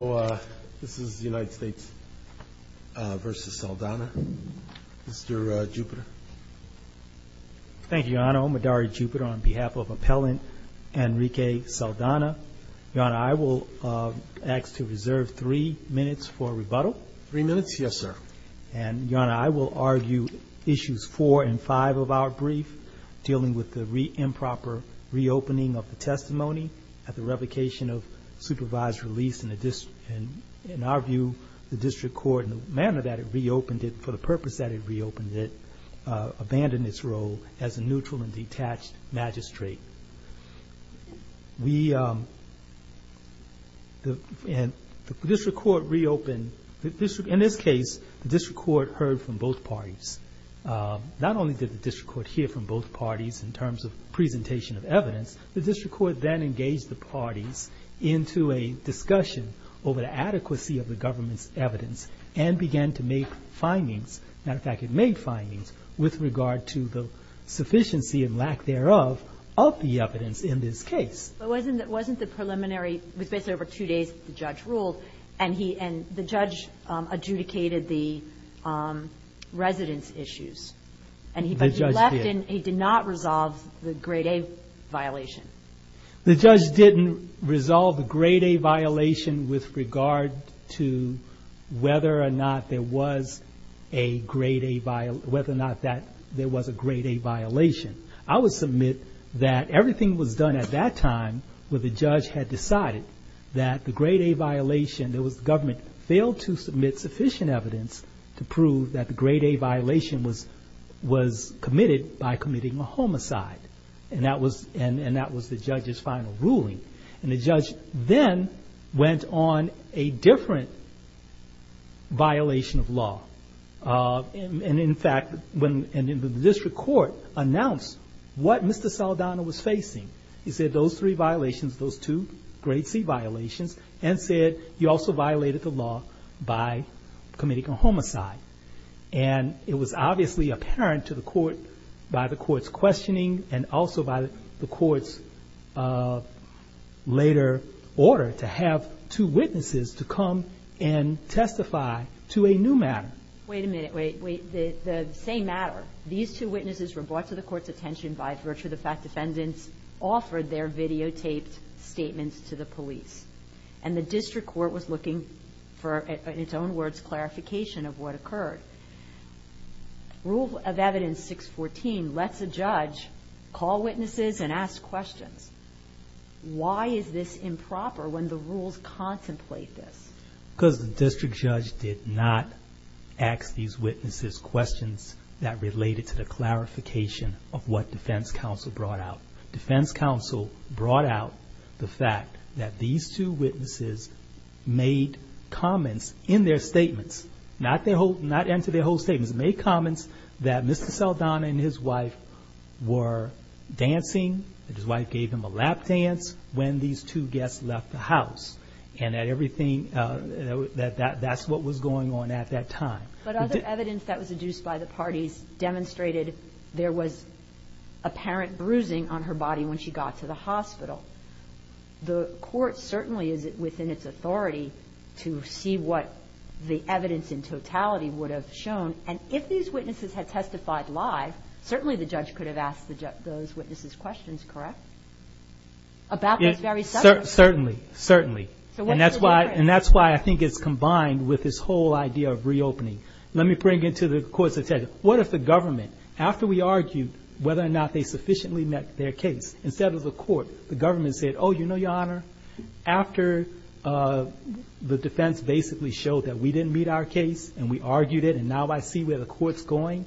So this is United States v. Saldana. Mr. Jupiter. Thank you, Your Honor. I'm Adari Jupiter on behalf of Appellant Enrique Saldana. Your Honor, I will ask to reserve three minutes for rebuttal. Three minutes? Yes, sir. And, Your Honor, I will argue issues four and five of our brief dealing with the improper reopening of the testimony at the revocation of supervised release. In our view, the district court, in the manner that it reopened it, for the purpose that it reopened it, abandoned its role as a neutral and detached magistrate. The district court reopened. In this case, the district court heard from both parties. Not only did the district court hear from both parties in terms of presentation of evidence, the district court then engaged the parties into a discussion over the adequacy of the government's evidence and began to make findings. As a matter of fact, it made findings with regard to the sufficiency and lack thereof of the evidence in this case. But wasn't the preliminary – it was basically over two days that the judge ruled, and he – and the judge adjudicated the residence issues. The judge did. He did not resolve the Grade A violation. The judge didn't resolve the Grade A violation with regard to whether or not there was a Grade A – whether or not that there was a Grade A violation. I would submit that everything was done at that time when the judge had decided that the Grade A violation – that the government failed to submit sufficient evidence to prove that the Grade A violation was committed by committing a homicide. And that was the judge's final ruling. And the judge then went on a different violation of law. And in fact, when the district court announced what Mr. Saldana was facing, he said those three violations, those two Grade C violations, and said he also violated the law by committing a homicide. And it was obviously apparent to the court by the court's questioning and also by the court's later order to have two witnesses to come and testify to a new matter. Wait a minute. Wait, wait. The same matter. These two witnesses were brought to the court's attention by virtue of the fact offered their videotaped statements to the police. And the district court was looking for, in its own words, clarification of what occurred. Rule of Evidence 614 lets a judge call witnesses and ask questions. Why is this improper when the rules contemplate this? Because the district judge did not ask these witnesses questions that related to the clarification of what defense counsel brought out. Defense counsel brought out the fact that these two witnesses made comments in their statements, not enter their whole statements, made comments that Mr. Saldana and his wife were dancing, that his wife gave him a lap dance when these two guests left the house, and that that's what was going on at that time. But other evidence that was adduced by the parties demonstrated there was apparent bruising on her body when she got to the hospital. The court certainly is within its authority to see what the evidence in totality would have shown. And if these witnesses had testified live, certainly the judge could have asked those witnesses questions, correct? Certainly. And that's why I think it's combined with this whole idea of reopening. Let me bring it to the court's attention. What if the government, after we argued whether or not they sufficiently met their case, instead of the court, the government said, oh, you know, Your Honor, after the defense basically showed that we didn't meet our case and we argued it and now I see where the court's going,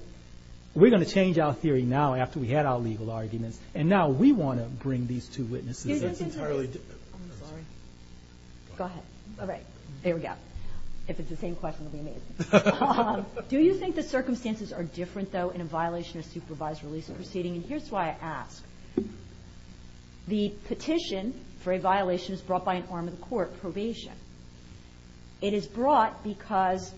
we're going to change our theory now after we had our legal arguments. And now we want to bring these two witnesses. Excuse me. Go ahead. All right. There we go. If it's the same question, it would be amazing. Do you think the circumstances are different, though, in a violation of supervised release proceeding? And here's why I ask. The petition for a violation is brought by an arm of the court, probation. It is brought because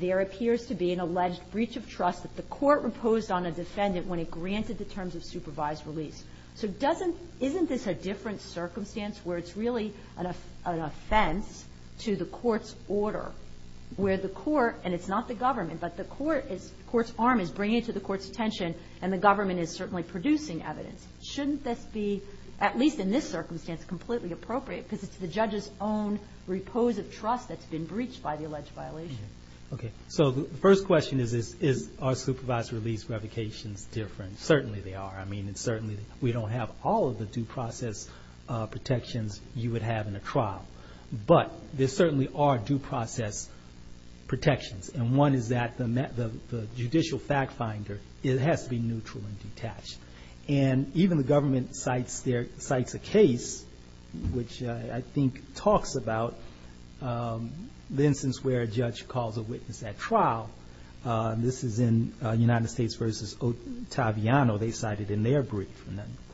there appears to be an alleged breach of trust that the court reposed on a defendant when it granted the terms of supervised release. So isn't this a different circumstance where it's really an offense to the court's order, where the court, and it's not the government, but the court's arm is bringing it to the court's attention and the government is certainly producing evidence? Shouldn't this be, at least in this circumstance, completely appropriate because it's the judge's own repose of trust that's been breached by the alleged violation? Okay. So the first question is, are supervised release revocations different? Certainly they are. I mean, certainly we don't have all of the due process protections you would have in a trial. But there certainly are due process protections, and one is that the judicial fact finder has to be neutral and detached. And even the government cites a case which I think talks about the instance where a judge calls a witness at trial. This is in United States v. Ottaviano. They cite it in their brief.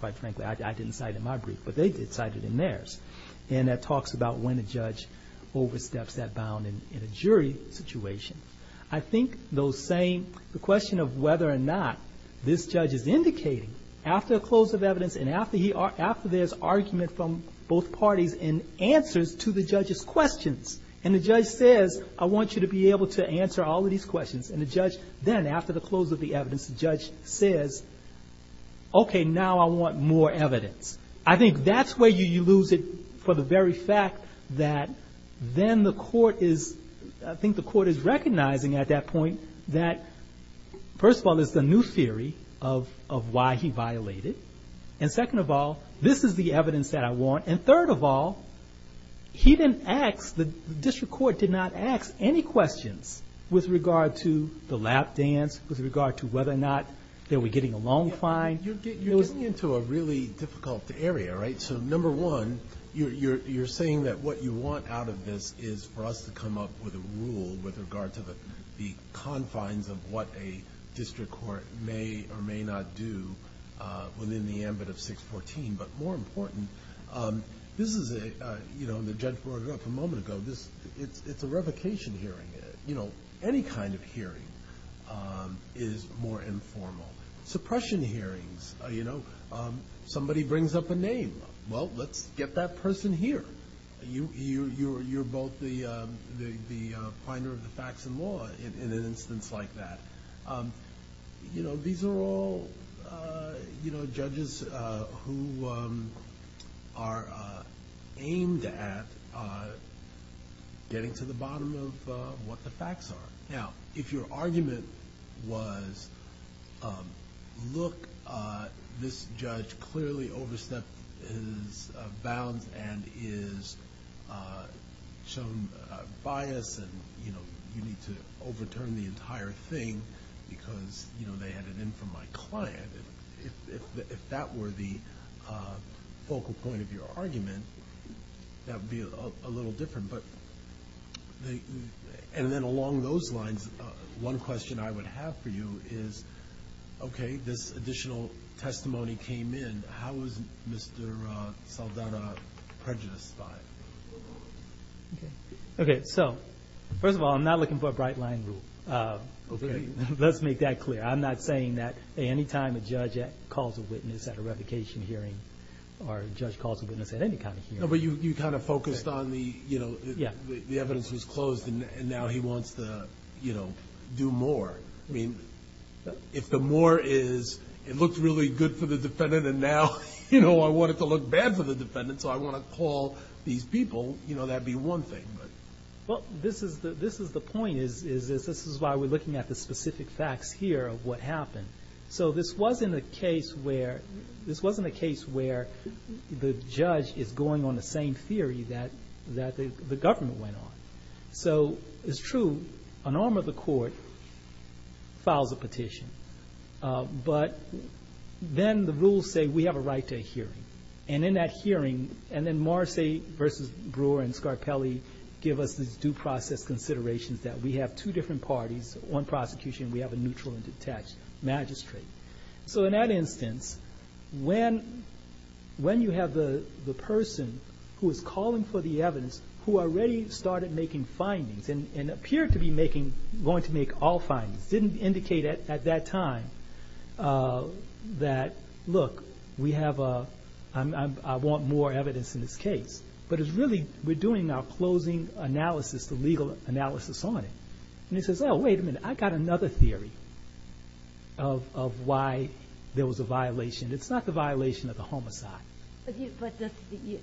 Quite frankly, I didn't cite it in my brief, but they did cite it in theirs. And that talks about when a judge oversteps that bound in a jury situation. I think the question of whether or not this judge is indicating, after a close of evidence and after there's argument from both parties and answers to the judge's questions, and the judge says, I want you to be able to answer all of these questions, and the judge then, after the close of the evidence, the judge says, okay, now I want more evidence. I think that's where you lose it for the very fact that then the court is, I think the court is recognizing at that point that, first of all, there's the new theory of why he violated. And second of all, this is the evidence that I want. And third of all, he didn't ask, the district court did not ask any questions with regard to the lap dance, with regard to whether or not they were getting a long fine. You're getting into a really difficult area, right? So number one, you're saying that what you want out of this is for us to come up with a rule with regard to the confines of what a district court may or may not do within the ambit of 614. But more important, this is a, you know, the judge brought it up a moment ago, it's a revocation hearing. You know, any kind of hearing is more informal. Suppression hearings, you know, somebody brings up a name. Well, let's get that person here. You're both the finder of the facts and law in an instance like that. You know, these are all, you know, judges who are aimed at getting to the bottom of what the facts are. Now, if your argument was, look, this judge clearly overstepped his bounds and is shown bias and, you know, you need to overturn the entire thing because, you know, they had an in from my client. If that were the focal point of your argument, that would be a little different. And then along those lines, one question I would have for you is, okay, this additional testimony came in. How is Mr. Saldana prejudiced by it? Okay, so first of all, I'm not looking for a bright line rule. Let's make that clear. I'm not saying that any time a judge calls a witness at a revocation hearing or a judge calls a witness at any kind of hearing. No, but you kind of focused on the, you know, the evidence was closed and now he wants to, you know, do more. I mean, if the more is it looked really good for the defendant and now, you know, I want it to look bad for the defendant so I want to call these people, you know, that would be one thing. Well, this is the point is this is why we're looking at the specific facts here of what happened. So this wasn't a case where the judge is going on the same theory that the government went on. So it's true, an arm of the court files a petition, but then the rules say we have a right to a hearing. And in that hearing, and then Morrissey v. Brewer and Scarpelli give us these due process considerations that we have two different parties, one prosecution and we have a neutral and detached magistrate. So in that instance, when you have the person who is calling for the evidence who already started making findings and appeared to be going to make all findings, didn't indicate at that time that, look, we have a, I want more evidence in this case. But it's really, we're doing our closing analysis, the legal analysis on it. And he says, oh, wait a minute, I got another theory of why there was a violation. It's not the violation of the homicide. But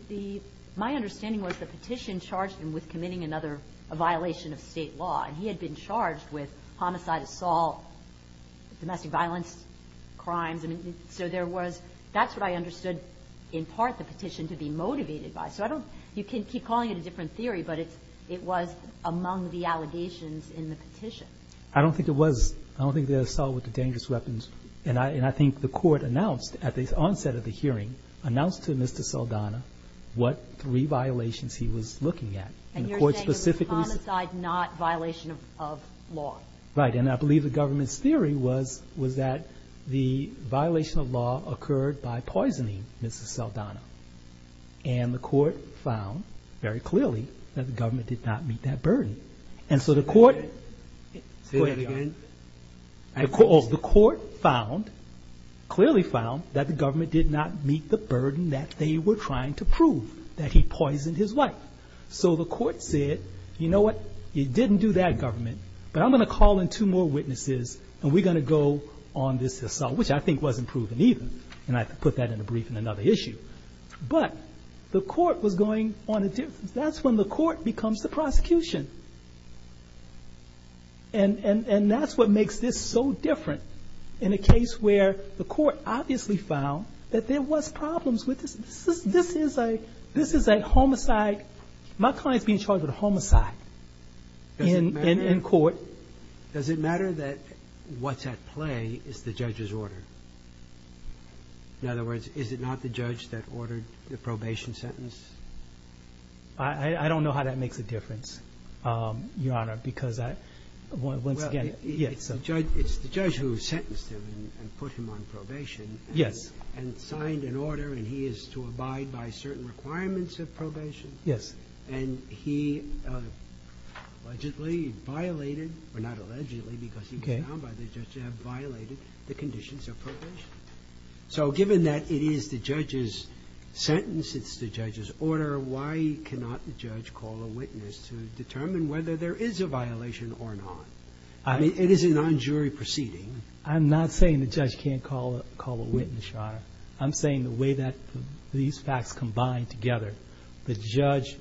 the, my understanding was the petition charged him with committing another, a violation of state law. And he had been charged with homicide, assault, domestic violence, crimes. So there was, that's what I understood in part the petition to be motivated by. So I don't, you can keep calling it a different theory, but it was among the allegations in the petition. I don't think it was. I don't think the assault with the dangerous weapons, And I think the court announced at the onset of the hearing, announced to Mr. Saldana what three violations he was looking at. And the court specifically said. And you're saying it was homicide, not violation of law. Right. And I believe the government's theory was, was that the violation of law occurred by poisoning Mrs. Saldana. And the court found very clearly that the government did not meet that burden. And so the court. Say that again. And of course the court found, clearly found that the government did not meet the burden that they were trying to prove. That he poisoned his wife. So the court said, you know what? You didn't do that government, but I'm going to call in two more witnesses. And we're going to go on this assault, which I think wasn't proven either. And I put that in a brief in another issue. But the court was going on a difference. That's when the court becomes the prosecution. And that's what makes this so different. In a case where the court obviously found that there was problems with this. This is a homicide. My client's being charged with a homicide in court. Does it matter that what's at play is the judge's order? In other words, is it not the judge that ordered the probation sentence? I don't know how that makes a difference. Your Honor, because once again. It's the judge who sentenced him and put him on probation. Yes. And signed an order, and he is to abide by certain requirements of probation. Yes. And he allegedly violated, or not allegedly because he was found by the judge, to have violated the conditions of probation. So given that it is the judge's sentence, it's the judge's order, why cannot the judge call a witness to determine whether there is a violation or not? It is a non-jury proceeding. I'm not saying the judge can't call a witness, Your Honor. I'm saying the way that these facts combine together, the judge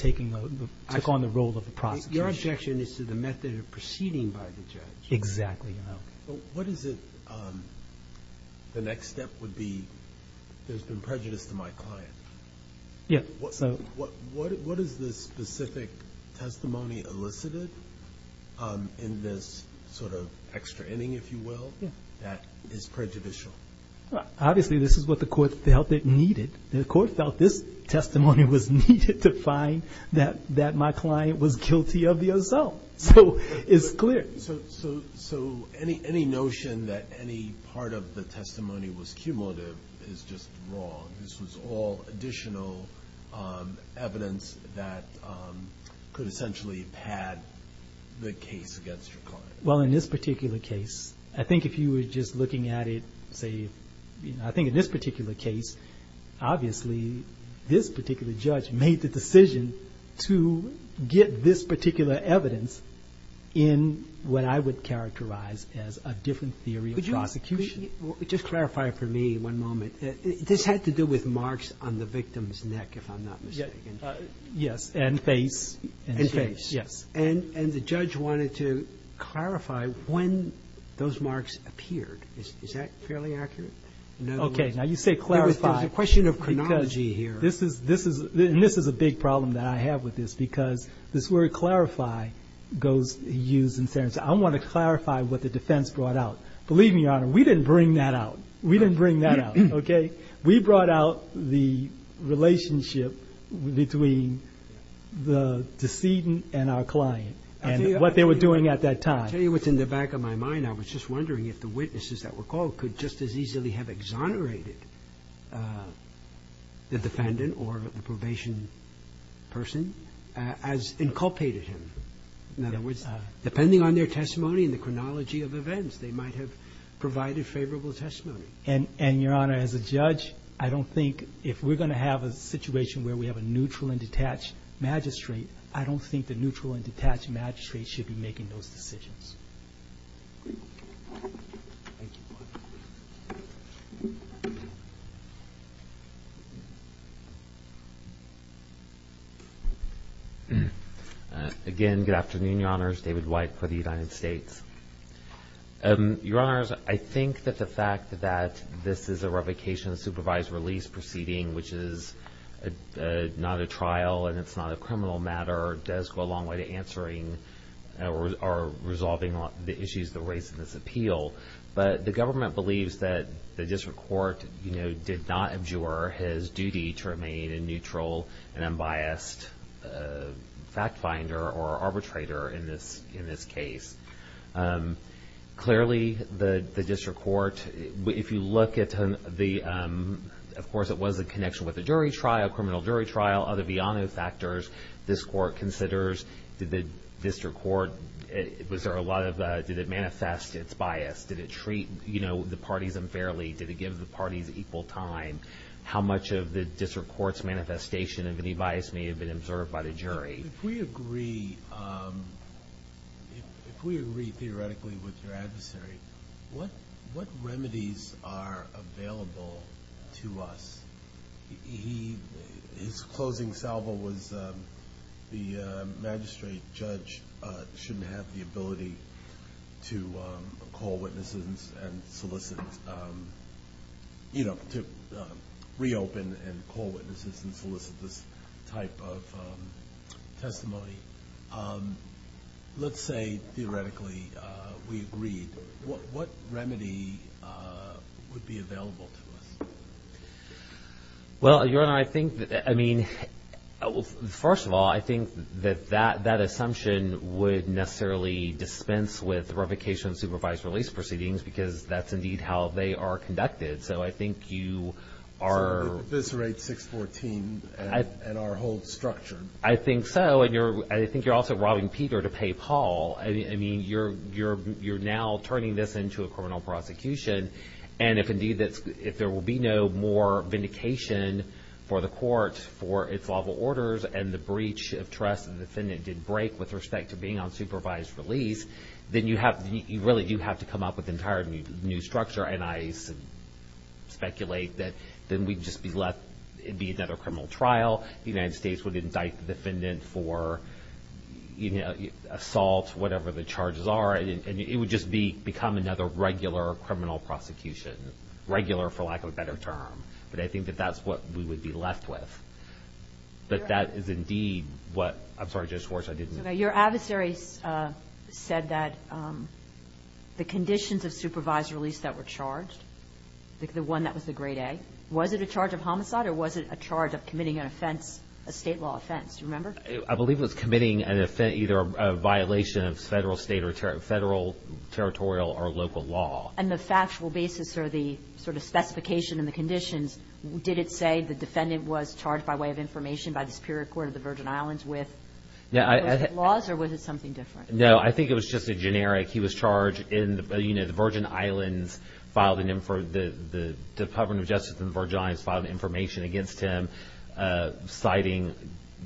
took on the role of the prosecution. Your objection is to the method of proceeding by the judge. Exactly. What is it the next step would be? There's been prejudice to my client. Yes. What is the specific testimony elicited in this sort of extra inning, if you will, that is prejudicial? Obviously, this is what the court felt it needed. The court felt this testimony was needed to find that my client was guilty of the assault. So it's clear. So any notion that any part of the testimony was cumulative is just wrong. This was all additional evidence that could essentially pad the case against your client. Well, in this particular case, I think if you were just looking at it, say, I think in this particular case, obviously, this particular judge made the decision to get this particular evidence in what I would characterize as a different theory of prosecution. Just clarify for me one moment. This had to do with marks on the victim's neck, if I'm not mistaken. Yes. And face. And face. Yes. And the judge wanted to clarify when those marks appeared. Is that fairly accurate? Okay. Now, you say clarify. There's a question of chronology here. This is a big problem that I have with this because this word clarify goes used in sentence. I want to clarify what the defense brought out. Believe me, Your Honor, we didn't bring that out. We didn't bring that out, okay? We brought out the relationship between the decedent and our client and what they were doing at that time. I'll tell you what's in the back of my mind. I was just wondering if the witnesses that were called could just as easily have exonerated the defendant or the probation person as inculpated him. In other words, depending on their testimony and the chronology of events, they might have provided favorable testimony. And, Your Honor, as a judge, I don't think if we're going to have a situation where we have a neutral and detached magistrate, I don't think the neutral and detached magistrate should be making those decisions. Thank you. Again, good afternoon, Your Honors. David White for the United States. Your Honors, I think that the fact that this is a revocation of supervised release proceeding, which is not a trial and it's not a criminal matter, does go a long way to answering or resolving the issues that were raised in this appeal. But the government believes that the district court, you know, did not abjure his duty to remain a neutral and unbiased fact finder or arbitrator in this case. Clearly, the district court, if you look at the, of course, it was in connection with the jury trial, criminal jury trial, other Viano factors. This court considers, did the district court, was there a lot of, did it manifest its bias? Did it treat, you know, the parties unfairly? Did it give the parties equal time? How much of the district court's manifestation of any bias may have been observed by the jury? If we agree, if we agree theoretically with your adversary, what remedies are available to us? His closing salvo was the magistrate judge shouldn't have the ability to call witnesses and solicit, you know, to reopen and call witnesses and solicit this type of testimony. Let's say theoretically we agreed. What remedy would be available to us? Well, Your Honor, I think, I mean, first of all, I think that that assumption would necessarily dispense with revocation supervised release proceedings because that's indeed how they are conducted. So I think you are. So we'd eviscerate 614 and our whole structure. I think so. And I think you're also robbing Peter to pay Paul. I mean, you're now turning this into a criminal prosecution. And if indeed there will be no more vindication for the court for its lawful orders and the breach of trust the defendant did break with respect to being on supervised release, then you really do have to come up with an entirely new structure. And I speculate that then we'd just be left, it'd be another criminal trial. The United States would indict the defendant for assault, whatever the charges are, and it would just become another regular criminal prosecution, regular for lack of a better term. But I think that that's what we would be left with. But that is indeed what, I'm sorry, Judge Schwartz, I didn't. Your adversary said that the conditions of supervised release that were charged, the one that was the grade A, was it a charge of homicide or was it a charge of committing an offense, a state law offense? Do you remember? I believe it was committing an offense, either a violation of federal, state, or federal, territorial, or local law. And the factual basis or the sort of specification and the conditions, did it say the defendant was charged by way of information by the Superior Court of the Virgin Islands with laws or was it something different? No, I think it was just a generic. He was charged in the Virgin Islands, the Department of Justice in the Virgin Islands filed information against him, citing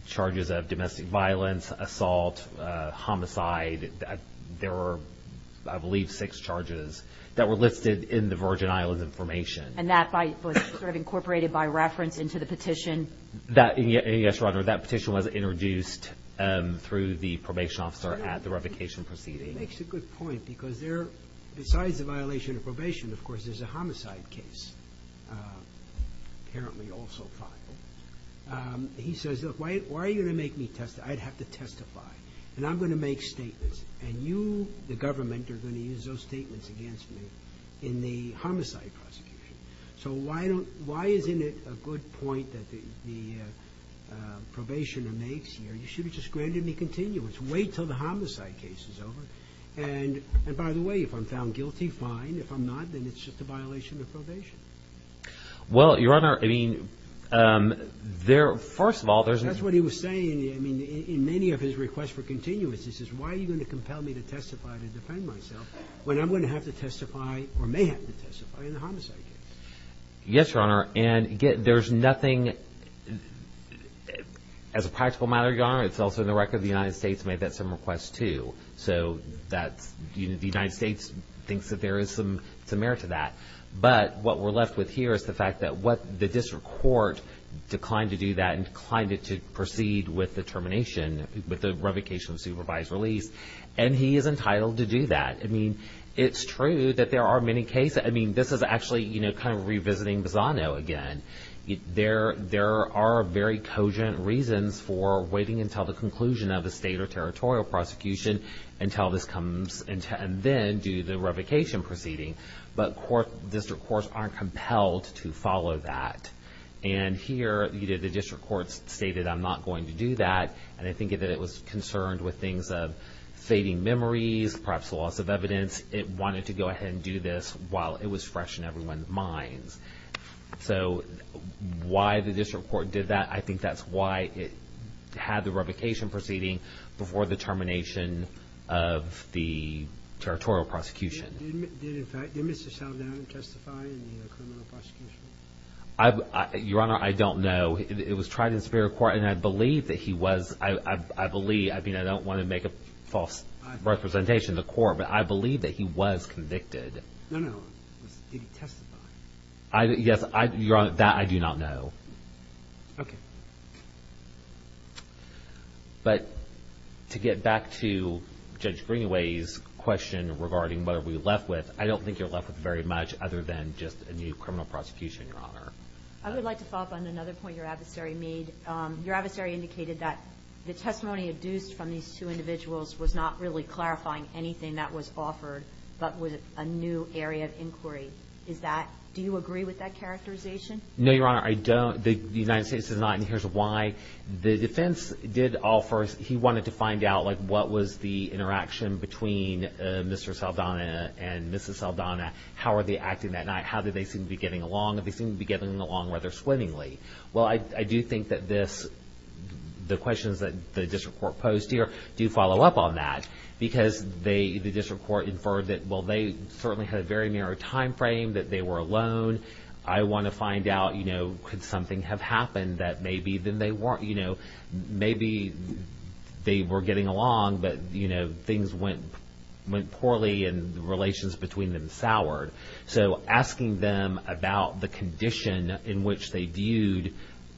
charges of domestic violence, assault, homicide. There were, I believe, six charges that were listed in the Virgin Islands information. And that was sort of incorporated by reference into the petition? Yes, Your Honor. That petition was introduced through the probation officer at the revocation proceeding. He makes a good point because besides the violation of probation, of course, there's a homicide case apparently also filed. He says, look, why are you going to make me testify? I'd have to testify and I'm going to make statements and you, the government, are going to use those statements against me in the homicide prosecution. So why isn't it a good point that the probation makes here? You should have just granted me continuance. Wait until the homicide case is over. And by the way, if I'm found guilty, fine. If I'm not, then it's just a violation of probation. Well, Your Honor, I mean, first of all, there's... That's what he was saying in many of his requests for continuance. He says, why are you going to compel me to testify to defend myself when I'm going to have to testify or may have to testify in the homicide case? Yes, Your Honor. And there's nothing, as a practical matter, Your Honor, it's also in the record the United States made that same request too. So the United States thinks that there is some merit to that. But what we're left with here is the fact that the district court declined to do that and declined to proceed with the termination, with the revocation of supervised release. And he is entitled to do that. I mean, it's true that there are many cases. I mean, this is actually, you know, kind of revisiting Bizano again. There are very cogent reasons for waiting until the conclusion of a state or territorial prosecution until this comes and then do the revocation proceeding. But district courts aren't compelled to follow that. And here, you know, the district court stated, I'm not going to do that. And I think that it was concerned with things of fading memories, perhaps loss of evidence. It wanted to go ahead and do this while it was fresh in everyone's minds. So why the district court did that, I think that's why it had the revocation proceeding before the termination of the territorial prosecution. Did Mr. Saldana testify in the criminal prosecution? Your Honor, I don't know. It was tried in the Superior Court, and I believe that he was. I believe. I believe that he was convicted. No, no. Did he testify? Yes, Your Honor, that I do not know. Okay. But to get back to Judge Greenaway's question regarding what are we left with, I don't think you're left with very much other than just a new criminal prosecution, Your Honor. I would like to follow up on another point your adversary made. Your adversary indicated that the testimony adduced from these two individuals was not really clarifying anything that was offered but was a new area of inquiry. Do you agree with that characterization? No, Your Honor, I don't. The United States does not, and here's why. The defense did offer he wanted to find out, like, what was the interaction between Mr. Saldana and Mrs. Saldana. How were they acting that night? How did they seem to be getting along? Did they seem to be getting along rather swimmingly? Well, I do think that the questions that the district court posed here do follow up on that because the district court inferred that, well, they certainly had a very narrow time frame, that they were alone. I want to find out, you know, could something have happened that maybe then they weren't, you know, maybe they were getting along but, you know, things went poorly and the relations between them soured. So asking them about the condition in which they viewed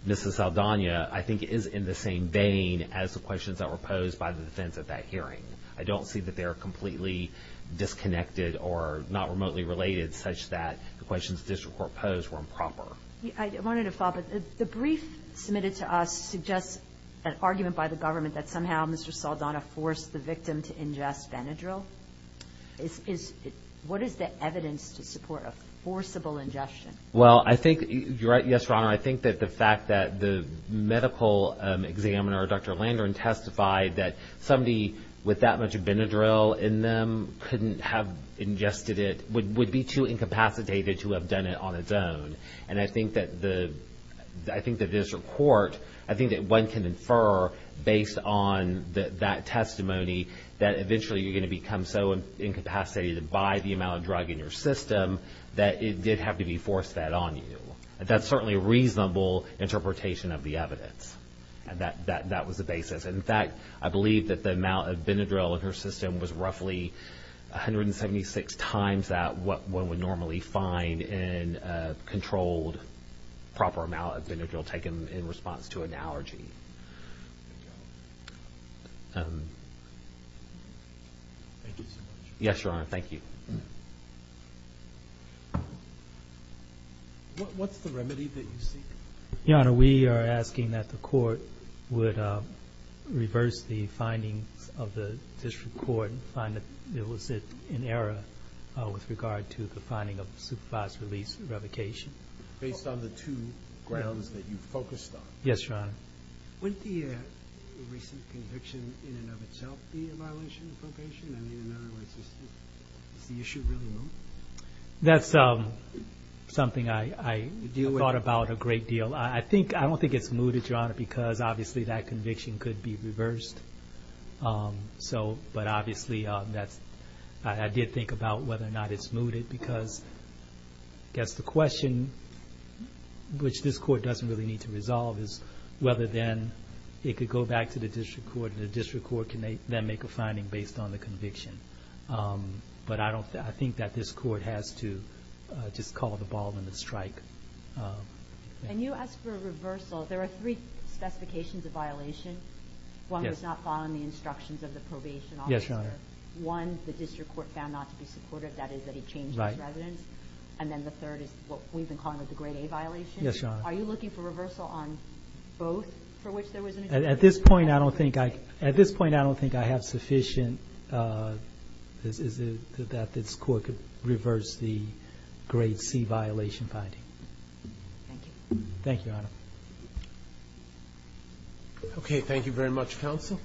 Mrs. Saldana, I think is in the same vein as the questions that were posed by the defense at that hearing. I don't see that they are completely disconnected or not remotely related such that the questions the district court posed were improper. I wanted to follow up. The brief submitted to us suggests an argument by the government that somehow Mr. Saldana forced the victim to ingest Benadryl. What is the evidence to support a forcible ingestion? Well, I think you're right, yes, Your Honor. I think that the fact that the medical examiner, Dr. Landron, testified that somebody with that much Benadryl in them couldn't have ingested it would be too incapacitated to have done it on its own. And I think that the district court, I think that one can infer based on that testimony that eventually you're going to become so incapacitated by the amount of drug in your system that it did have to be force-fed on you. That's certainly a reasonable interpretation of the evidence. That was the basis. In fact, I believe that the amount of Benadryl in her system was roughly 176 times that what one would normally find in a controlled proper amount of Benadryl taken in response to an allergy. Thank you so much. Yes, Your Honor. Thank you. What's the remedy that you seek? Your Honor, we are asking that the court would reverse the findings of the district court and find that it was in error with regard to the finding of supervised release and revocation. Based on the two grounds that you focused on? Yes, Your Honor. Wouldn't the recent conviction in and of itself be a violation of probation? I mean, in other words, is the issue really moot? That's something I thought about a great deal. I don't think it's mooted, Your Honor, because obviously that conviction could be reversed. But obviously I did think about whether or not it's mooted because I guess the question which this court doesn't really need to resolve is whether then it could go back to the district court and the district court can then make a finding based on the conviction. But I think that this court has to just call the ball and the strike. And you asked for a reversal. There are three specifications of violation. One was not following the instructions of the probation officer. One, the district court found not to be supportive. That is that he changed his residence. And then the third is what we've been calling the grade A violation. Yes, Your Honor. Are you looking for reversal on both for which there was an agreement? At this point I don't think I have sufficient that this court could reverse the grade C violation finding. Thank you. Thank you, Your Honor. Okay, thank you very much, counsel.